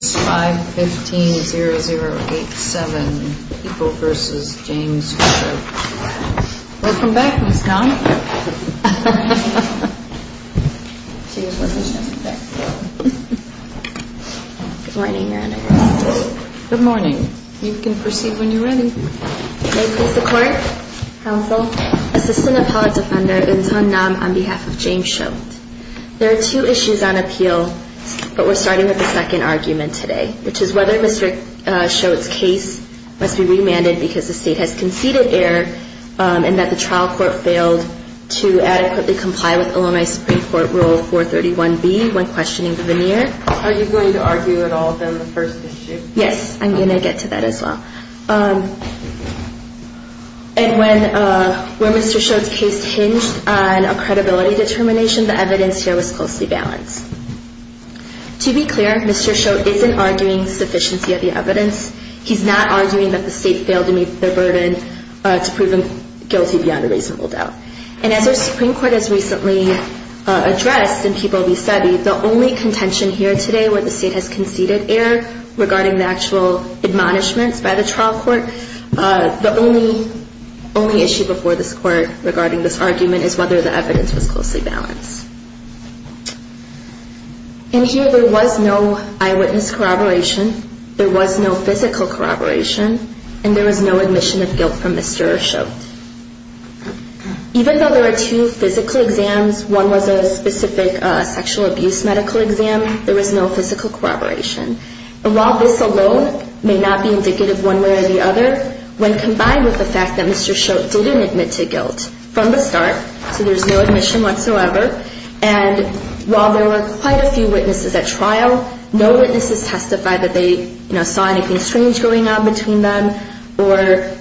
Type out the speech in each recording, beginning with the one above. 515-0087 People v. James Choate. Welcome back, Ms. Nam. Good morning, Your Honor. Good morning. You can proceed when you're ready. May it please the Court, Counsel, Assistant Appellate Defender Eun Sun Nam on behalf of James Choate. There are two issues on appeal, but we're starting with the second argument today, which is whether Mr. Choate's case must be remanded because the State has conceded error and that the trial court failed to adequately comply with Illinois Supreme Court Rule 431B when questioning the veneer. Are you going to argue at all on the first issue? Yes, I'm going to get to that as well. And when Mr. Choate's case hinged on a credibility determination, the evidence here was closely balanced. To be clear, Mr. Choate isn't arguing sufficiency of the evidence. He's not arguing that the State failed to meet their burden to prove him guilty beyond a reasonable doubt. And as our Supreme Court has recently addressed in People v. Seve, the only contention here today where the State has conceded error regarding the actual admonishments by the trial court, the only issue before this Court regarding this argument is whether the evidence was closely balanced. In here, there was no eyewitness corroboration, there was no physical corroboration, and there was no admission of guilt from Mr. Choate. Even though there are two physical exams, one was a specific sexual abuse medical exam, there was no physical corroboration. And while this alone may not be indicative one way or the other, when combined with the fact that Mr. Choate didn't admit to guilt from the start, so there's no admission whatsoever, and while there were quite a few witnesses at trial, no witnesses testified that they saw anything strange going on between them or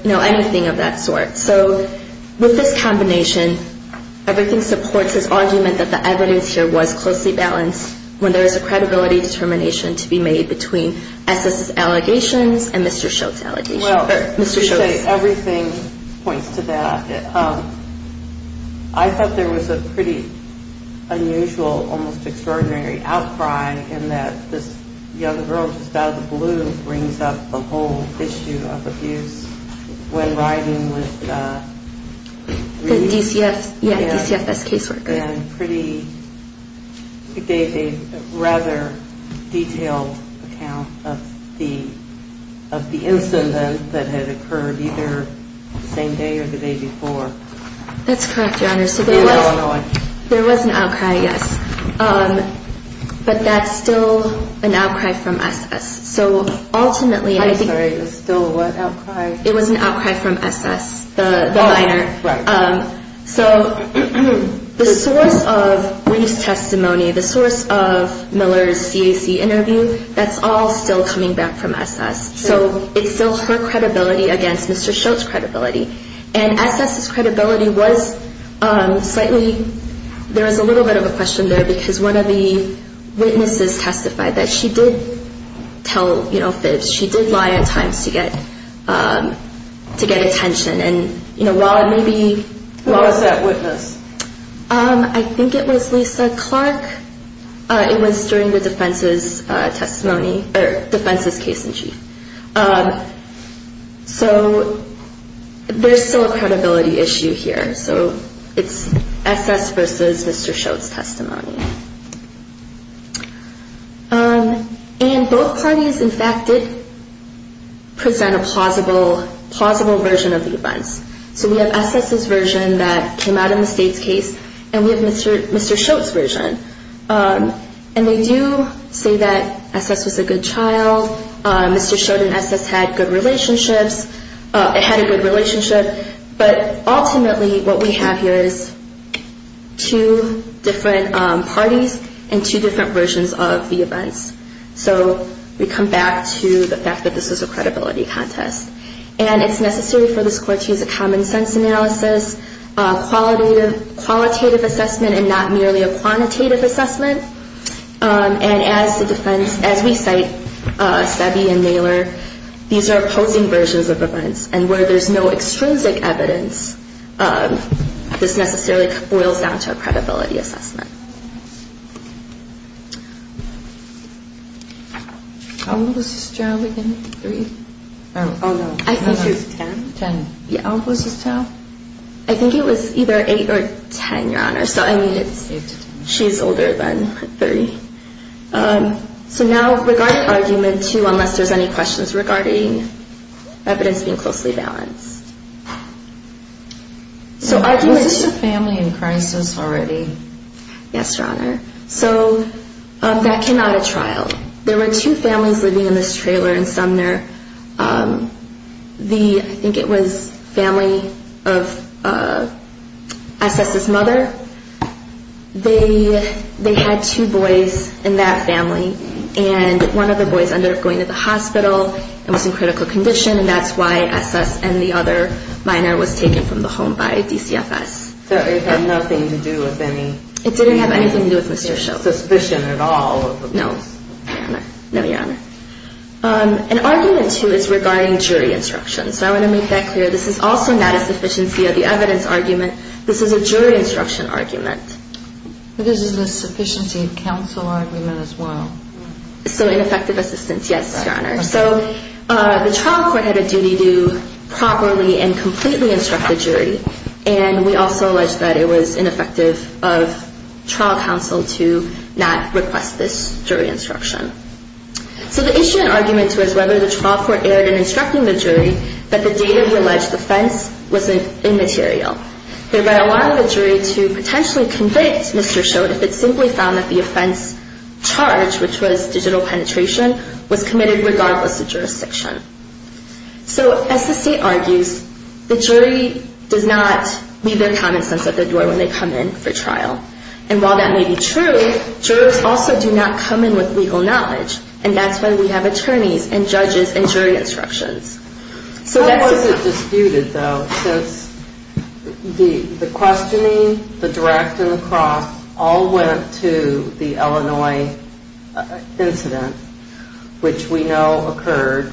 anything of that sort. So with this combination, everything supports this argument that the evidence here was closely balanced when there is a credibility determination to be made between S.S.'s allegations and Mr. Choate's allegations. Well, Mr. Choate, everything points to that. I thought there was a pretty unusual, almost extraordinary outcry in that this young girl just out of the blue brings up the whole issue of abuse when riding with the DCFS caseworker. That's correct, Your Honor. So there was an outcry, yes. But that's still an outcry from S.S. So ultimately, I think, it was an outcry from S.S., the minor. So the source of briefs testimony, the source of Miller's CAC interview, that's all still coming back from S.S. So it's still her credibility against Mr. Choate's credibility. And S.S.'s credibility was slightly, there was a little bit of a question there because one of the witnesses testified that she did tell fibs, she did lie at times to get attention. Who was that witness? I think it was Lisa Clark. It was during the defense's testimony, or defense's case in chief. So there's still a credibility issue here. So it's S.S. versus Mr. Choate's testimony. And both parties, in fact, did present a plausible version of the events. So we have S.S.'s version that came out in the state's case, and we have Mr. Choate's version. And they do say that S.S. was a good child. Mr. Choate and S.S. had good relationships. It had a good relationship. But ultimately, what we have here is two different parties and two different versions of the events. So we come back to the fact that this is a credibility contest. And it's necessary for this court to use a common sense analysis, qualitative assessment, and not merely a quantitative assessment. And as the defense, as we cite Sebi and Naylor, these are opposing versions of events. And where there's no extrinsic evidence, this necessarily boils down to a credibility assessment. I think it was either 8 or 10, Your Honor. She's older than 30. So now regarding Argument 2, unless there's any questions regarding evidence being closely balanced. Was this a family in crisis already? Yes, Your Honor. So that came out of trial. There were two families living in this trailer in Sumner. I think it was family of S.S.'s mother. They had two boys in that family. And one of the boys ended up going to the hospital and was in critical condition. And that's why S.S. and the other minor was taken from the home by DCFS. So it had nothing to do with any suspicion at all? No, Your Honor. And Argument 2 is regarding jury instruction. So I want to make that clear. This is also not a sufficiency of the evidence argument. This is a jury instruction argument. This is a sufficiency of counsel argument as well? So ineffective assistance, yes, Your Honor. So the trial court had a duty to properly and completely instruct the jury. And we also alleged that it was ineffective of trial counsel to not request this jury instruction. So the issue in Argument 2 is whether the trial court erred in instructing the jury that the data we alleged the offense was immaterial. Thereby allowing the jury to potentially convict Mr. Schoen if it simply found that the offense charge, which was digital penetration, was committed regardless of jurisdiction. So as the state argues, the jury does not leave their common sense at the door when they come in for trial. And while that may be true, jurors also do not come in with legal knowledge. And that's why we have attorneys and judges and jury instructions. So how was it disputed, though, since the questioning, the direct and the cross all went to the Illinois incident, which we know occurred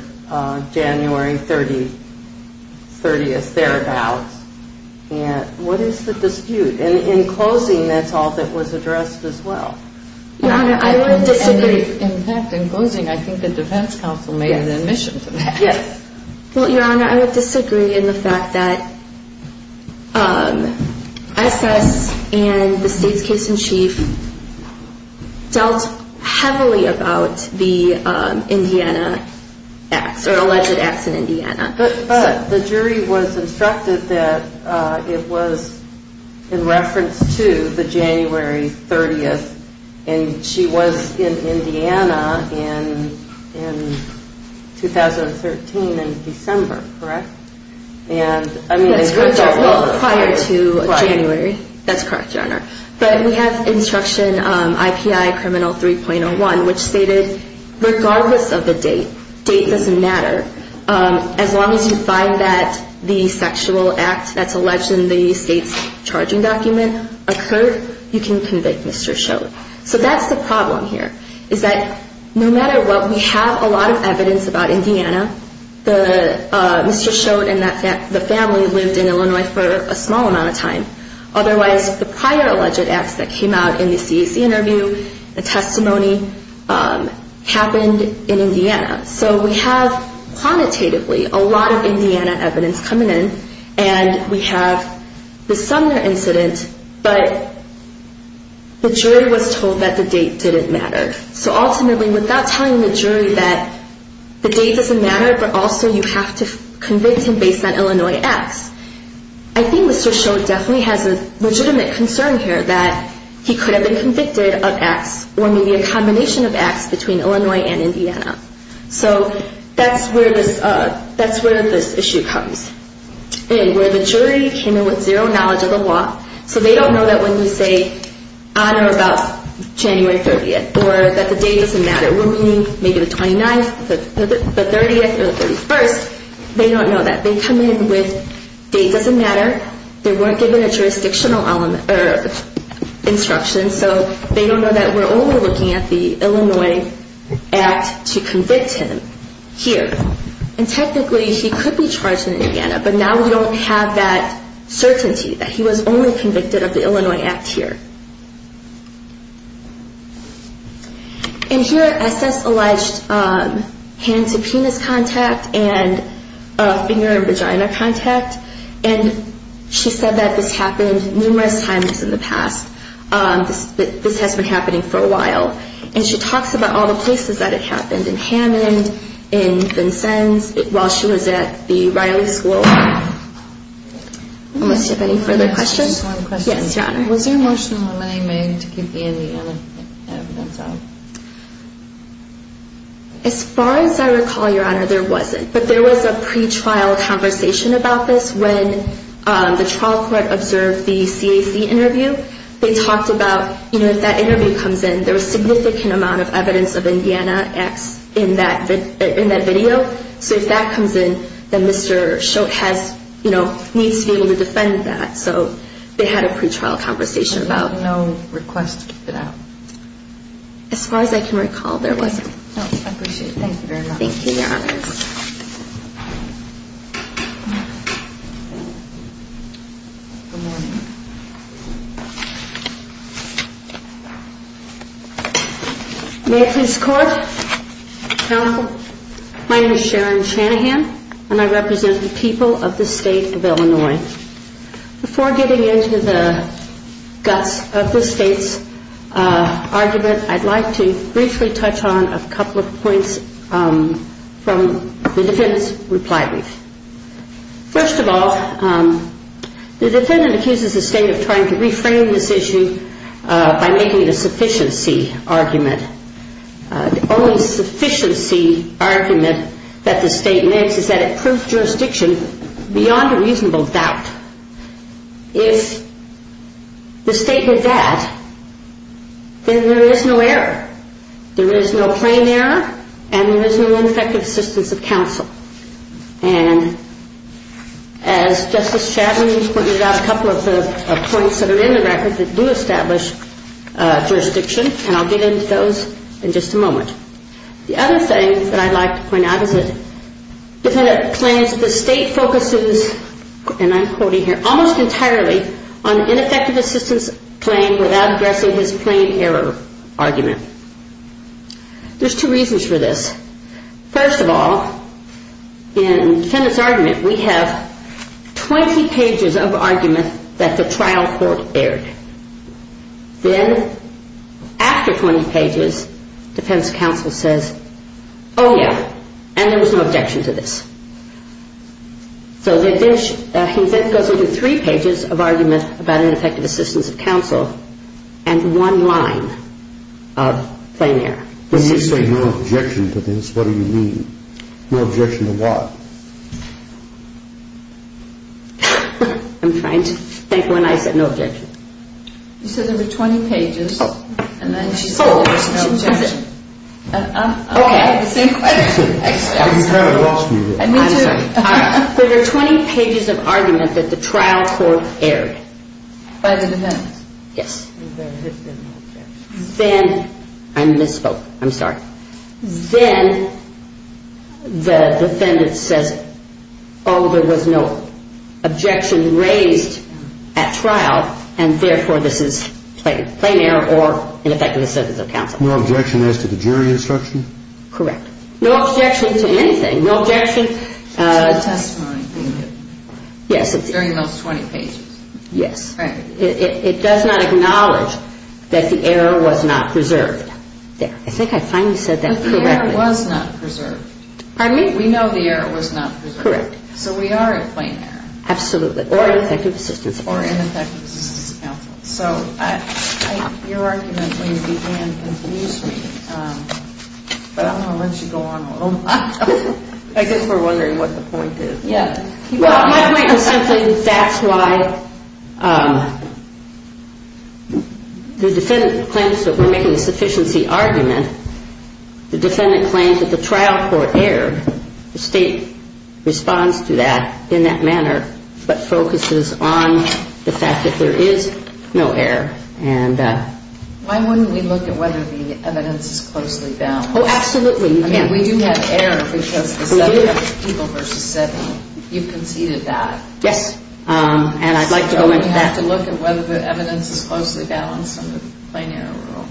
January 30th, thereabouts. And what is the dispute? And in closing, that's all that was addressed as well. In fact, in closing, I think the defense counsel made an admission to that. Yes. Well, Your Honor, I would disagree in the fact that SS and the state's case in chief dealt heavily about the Indiana acts or alleged acts in Indiana. But the jury was instructed that it was in reference to the January 30th. And she was in Indiana in 2013 in December, correct? Well, prior to January. That's correct, Your Honor. But we have instruction IPI criminal 3.01, which stated regardless of the date, date doesn't matter, as long as you find that the sexual act that's alleged in the state's charging document occurred, you can convict Mr. Schoen. So that's the problem here, is that no matter what, we have a lot of evidence about Indiana. Mr. Schoen and the family lived in Illinois for a small amount of time. Otherwise, the prior alleged acts that came out in the CAC interview, the testimony, happened in Indiana. So we have quantitatively a lot of Indiana evidence coming in, and we have the Sumner incident, but the jury was told that the date didn't matter. So ultimately, without telling the jury that the date doesn't matter, but also you have to convict him based on Illinois acts, I think Mr. Schoen definitely has a legitimate concern here that he could have been convicted of acts, or maybe a combination of acts between Illinois and Indiana. So that's where this issue comes in, where the jury came in with zero knowledge of the law, so they don't know that when you say, on or about January 30th, or that the date doesn't matter, meaning maybe the 29th, the 30th, or the 31st, they don't know that. They come in with, date doesn't matter, they weren't given a jurisdictional instruction, so they don't know that we're only looking at the Illinois act to convict him here. And technically, he could be charged in Indiana, but now we don't have that certainty that he was only convicted of the Illinois act here. And here, Estes alleged hand-to-penis contact and finger-in-vagina contact, and she said that this happened numerous times in the past, that this has been happening for a while. And she talks about all the places that it happened, in Hammond, in Vincennes, while she was at the Riley School. Unless you have any further questions? Yes, Your Honor. Was there emotional lamenting made to give the Indiana evidence out? As far as I recall, Your Honor, there wasn't. But there was a pretrial conversation about this when the trial court observed the CAC interview. They talked about, you know, if that interview comes in, there was significant amount of evidence of Indiana acts in that video. So if that comes in, then Mr. Schultz has, you know, needs to be able to defend that. So they had a pretrial conversation about it. And there was no request for that? As far as I can recall, there wasn't. No, I appreciate it. Thank you very much. Thank you, Your Honor. Good morning. May it please the Court. Counsel, my name is Sharon Shanahan, and I represent the people of the state of Illinois. Before getting into the guts of the state's argument, I'd like to briefly touch on a couple of points from the defendant's reply brief. First of all, the defendant accuses the state of trying to reframe this issue by making it a sufficiency argument. The only sufficiency argument that the state makes is that it proves jurisdiction beyond a reasonable doubt. If the state did that, then there is no error. There is no plain error, and there is no ineffective assistance of counsel. And as Justice Chatelain pointed out, a couple of the points that are in the record that do establish jurisdiction, and I'll get into those in just a moment. The other thing that I'd like to point out is that defendant claims the state focuses, and I'm quoting here, almost entirely on ineffective assistance claim without addressing his plain error argument. There's two reasons for this. First of all, in the defendant's argument, we have 20 pages of argument that the trial court aired. Then after 20 pages, defense counsel says, oh, yeah, and there was no objection to this. So he then goes into three pages of argument about ineffective assistance of counsel and one line of plain error. When you say no objection to this, what do you mean? No objection to what? I'm trying to think when I said no objection. You said there were 20 pages, and then she said there was no objection. Okay. I'm kind of lost here. I'm sorry. There were 20 pages of argument that the trial court aired. By the defense. Yes. Then I misspoke. I'm sorry. Then the defendant says, oh, there was no objection raised at trial, and therefore this is plain error or ineffective assistance of counsel. No objection as to the jury instruction? Correct. No objection to anything. No objection. To the testimony. Yes. During those 20 pages. Yes. It does not acknowledge that the error was not preserved. There. I think I finally said that correctly. The error was not preserved. Pardon me? We know the error was not preserved. Correct. So we are at plain error. Absolutely. Or ineffective assistance of counsel. Or ineffective assistance of counsel. So your argument really began to confuse me, but I'm going to let you go on a little while. I guess we're wondering what the point is. Yes. My point is simply that's why the defendant claims that we're making a sufficiency argument. The defendant claims that the trial court erred. The State responds to that in that manner, but focuses on the fact that there is no error. Why wouldn't we look at whether the evidence is closely bound? Oh, absolutely. We do have error because the seven people versus seven. You've conceded that. Yes. And I'd like to go into that. So we have to look at whether the evidence is closely balanced under the plain error rule.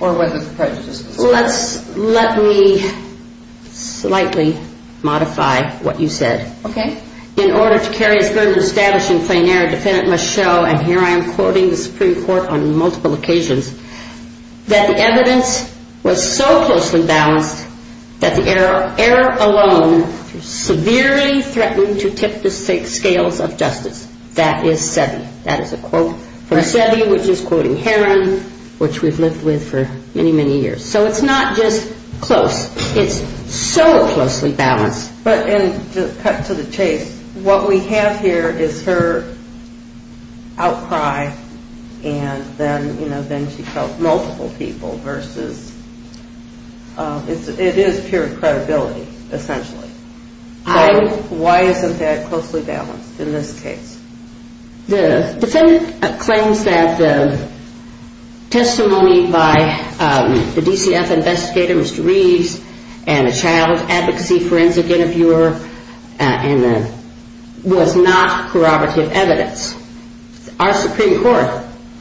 Or whether the prejudice was correct. Let me slightly modify what you said. Okay. In order to carry a standard of establishing plain error, a defendant must show, and here I am quoting the Supreme Court on multiple occasions, that the evidence was so closely balanced that the error alone severely threatened to tip the scales of justice. That is Seve. That is a quote from Seve, which is quoting Heron, which we've lived with for many, many years. So it's not just close. It's so closely balanced. And to cut to the chase, what we have here is her outcry, and then she felt multiple people versus, it is pure credibility, essentially. Why isn't that closely balanced in this case? The defendant claims that the testimony by the DCF investigator, Mr. Reeves, and a child advocacy forensic interviewer was not corroborative evidence. Our Supreme Court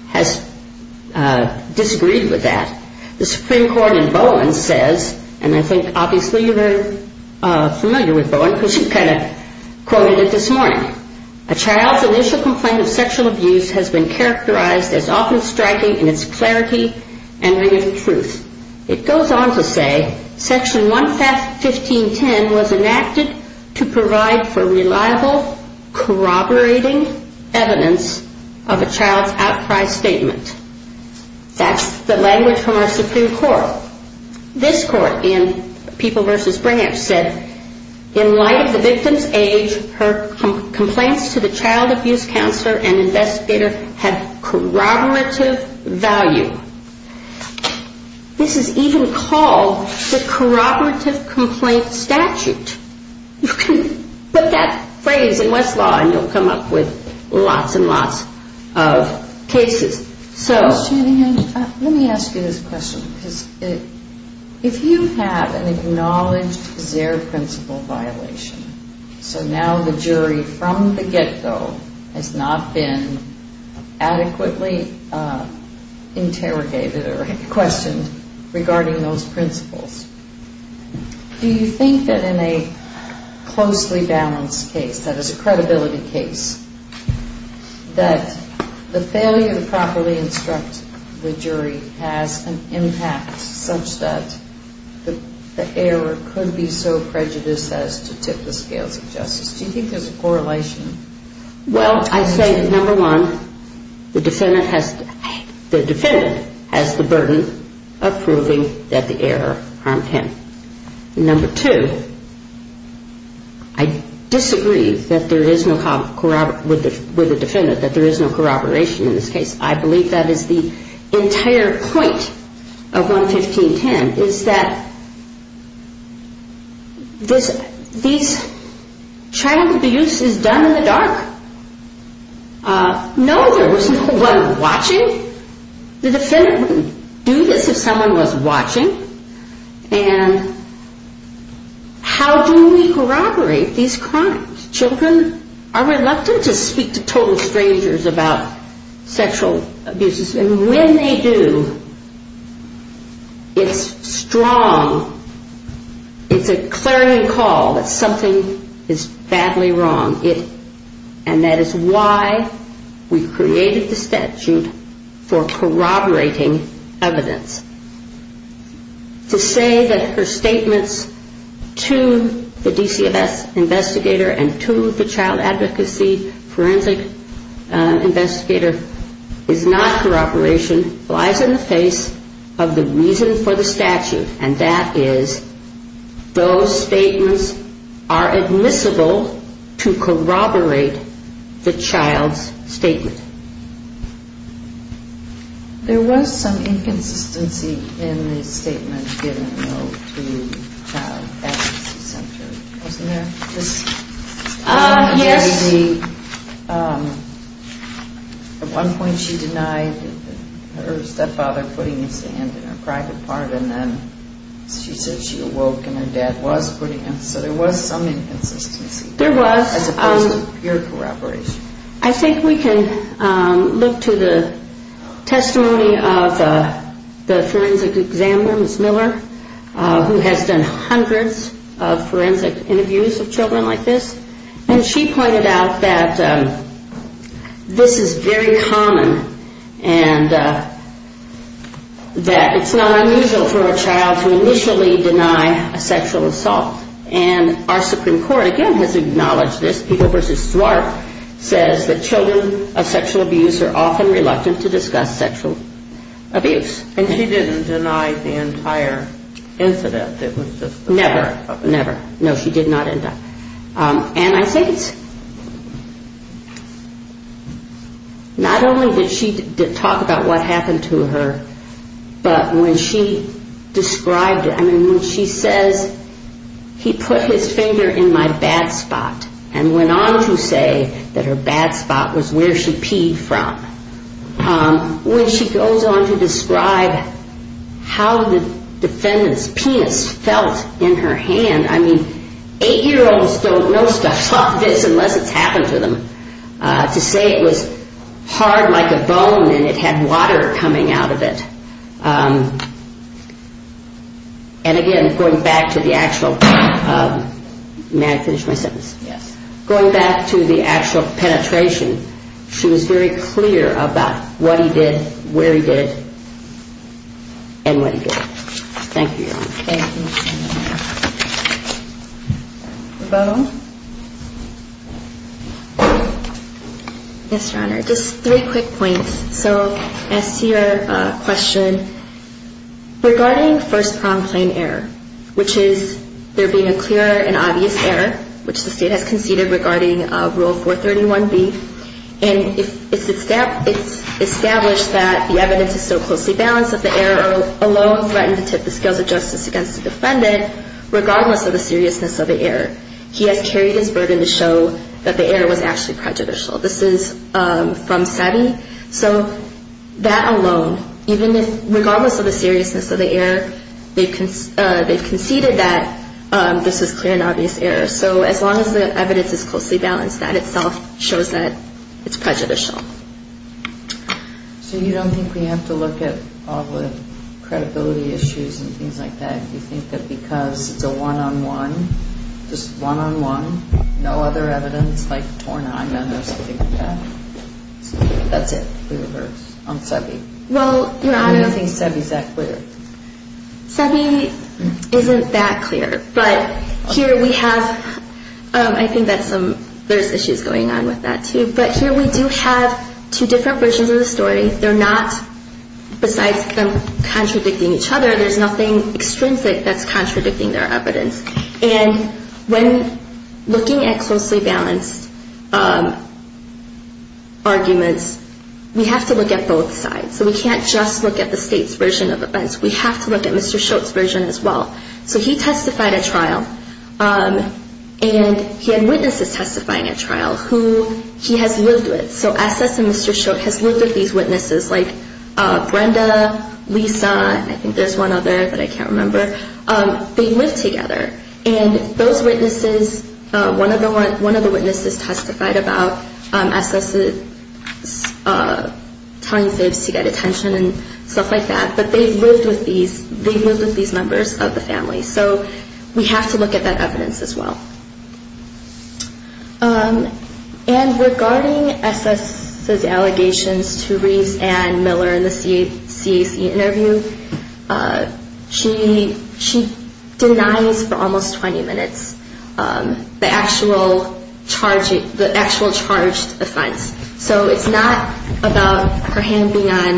has disagreed with that. The Supreme Court in Bowen says, and I think obviously you're very familiar with Bowen, because you kind of quoted it this morning. A child's initial complaint of sexual abuse has been characterized as often striking in its clarity and ring of truth. It goes on to say, Section 11510 was enacted to provide for reliable corroborating evidence of a child's outcry statement. That's the language from our Supreme Court. This court in People v. Branch said, in light of the victim's age, her complaints to the child abuse counselor and investigator had corroborative value. This is even called the corroborative complaint statute. Put that phrase in Westlaw and you'll come up with lots and lots of cases. Let me ask you this question. If you have an acknowledged Zaire principle violation, so now the jury from the get-go has not been adequately interrogated or questioned regarding those principles, do you think that in a closely balanced case, that is a credibility case, that the failure to properly instruct the jury has an impact such that the error could be so prejudiced as to tip the scales of justice? Do you think there's a correlation? Well, I say that, number one, the defendant has the burden of proving that the error harmed him. Number two, I disagree with the defendant that there is no corroboration in this case. I believe that is the entire point of 11510, is that this child abuse is done in the dark. No, there was no one watching. The defendant wouldn't do this if someone was watching. And how do we corroborate these crimes? Children are reluctant to speak to total strangers about sexual abuses. And when they do, it's strong, it's a clarion call that something is badly wrong. And that is why we created the statute for corroborating evidence. To say that her statements to the DCFS investigator and to the child advocacy forensic investigator is not corroboration, lies in the face of the reason for the statute, and that is those statements are admissible to corroborate the child's statement. There was some inconsistency in the statement given, though, to the child advocacy center, wasn't there? Yes. At one point she denied her stepfather putting his hand in her private part, and then she said she awoke and her dad was putting his. So there was some inconsistency. There was. As opposed to pure corroboration. I think we can look to the testimony of the forensic examiner, Ms. Miller, who has done hundreds of forensic interviews of children like this, and she pointed out that this is very common and that it's not unusual for a child to initially deny a sexual assault. And our Supreme Court, again, has acknowledged this. People v. Swart says that children of sexual abuse are often reluctant to discuss sexual abuse. And she didn't deny the entire incident? Never. Never. No, she did not. And I think it's not only did she talk about what happened to her, but when she described it, I mean, when she says he put his finger in my bad spot and went on to say that her bad spot was where she peed from. When she goes on to describe how the defendant's penis felt in her hand, I mean, 8-year-olds don't know stuff like this unless it's happened to them. To say it was hard like a bone and it had water coming out of it. And again, going back to the actual penetration, she was very clear about what he did, where he did, and when he did it. Thank you, Your Honor. Okay, thank you, Your Honor. Ravonne? Yes, Your Honor. Just three quick points. So as to your question, regarding first-pronged plain error, which is there being a clear and obvious error, which the State has conceded regarding Rule 431B, and it's established that the evidence is so closely balanced that the error alone threatened to tip the scales of justice against the defendant, regardless of the seriousness of the error. He has carried his burden to show that the error was actually prejudicial. This is from SETI. So that alone, even if regardless of the seriousness of the error, they've conceded that this is clear and obvious error. So as long as the evidence is closely balanced, that itself shows that it's prejudicial. So you don't think we have to look at all the credibility issues and things like that? Do you think that because it's a one-on-one, just one-on-one, no other evidence like torn-on or something like that? That's it, the reverse, on SEBI. Well, Your Honor. How do you think SEBI is that clear? SEBI isn't that clear. But here we have, I think that's some, there's issues going on with that, too. But here we do have two different versions of the story. They're not, besides them contradicting each other, there's nothing extrinsic that's contradicting their evidence. And when looking at closely balanced arguments, we have to look at both sides. So we can't just look at the State's version of events. We have to look at Mr. Schultz's version as well. So he testified at trial, and he had witnesses testifying at trial who he has lived with. So S.S. and Mr. Schultz has lived with these witnesses, like Brenda, Lisa, I think there's one other that I can't remember. They lived together. And those witnesses, one of the witnesses testified about S.S. telling fibs to get attention and stuff like that, but they've lived with these members of the family. So we have to look at that evidence as well. And regarding S.S.'s allegations to Reese Ann Miller in the CAC interview, she denies for almost 20 minutes the actual charged offense. So it's not about her hand being on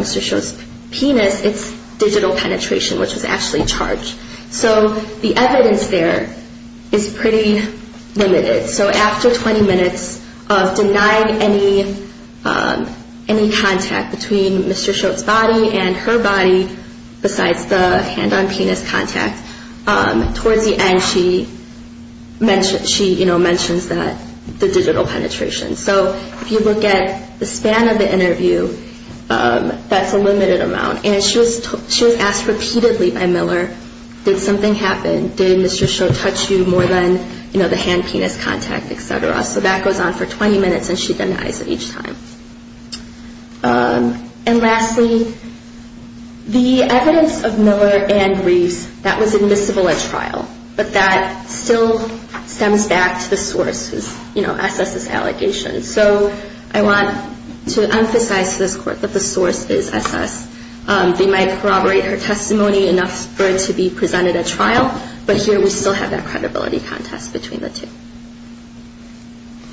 Mr. Schultz's penis, it's digital penetration, which was actually charged. So the evidence there is pretty limited. So after 20 minutes of denying any contact between Mr. Schultz's body and her body, besides the hand on penis contact, towards the end she mentions the digital penetration. So if you look at the span of the interview, that's a limited amount. And she was asked repeatedly by Miller, did something happen? Did Mr. Schultz touch you more than the hand-penis contact, et cetera? So that goes on for 20 minutes and she denies it each time. And lastly, the evidence of Miller and Reese that was admissible at trial, but that still stems back to the source, S.S.'s allegations. So I want to emphasize to this Court that the source is S.S. They might corroborate her testimony enough for it to be presented at trial, but here we still have that credibility contest between the two.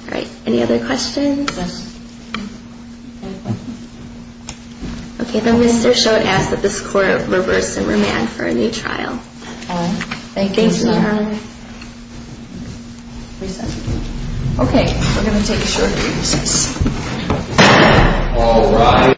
All right, any other questions? Okay, then Mr. Schultz asks that this Court reverse and remand for a new trial. All right, thank you. Thank you, ma'am. Okay, we're going to take a short recess.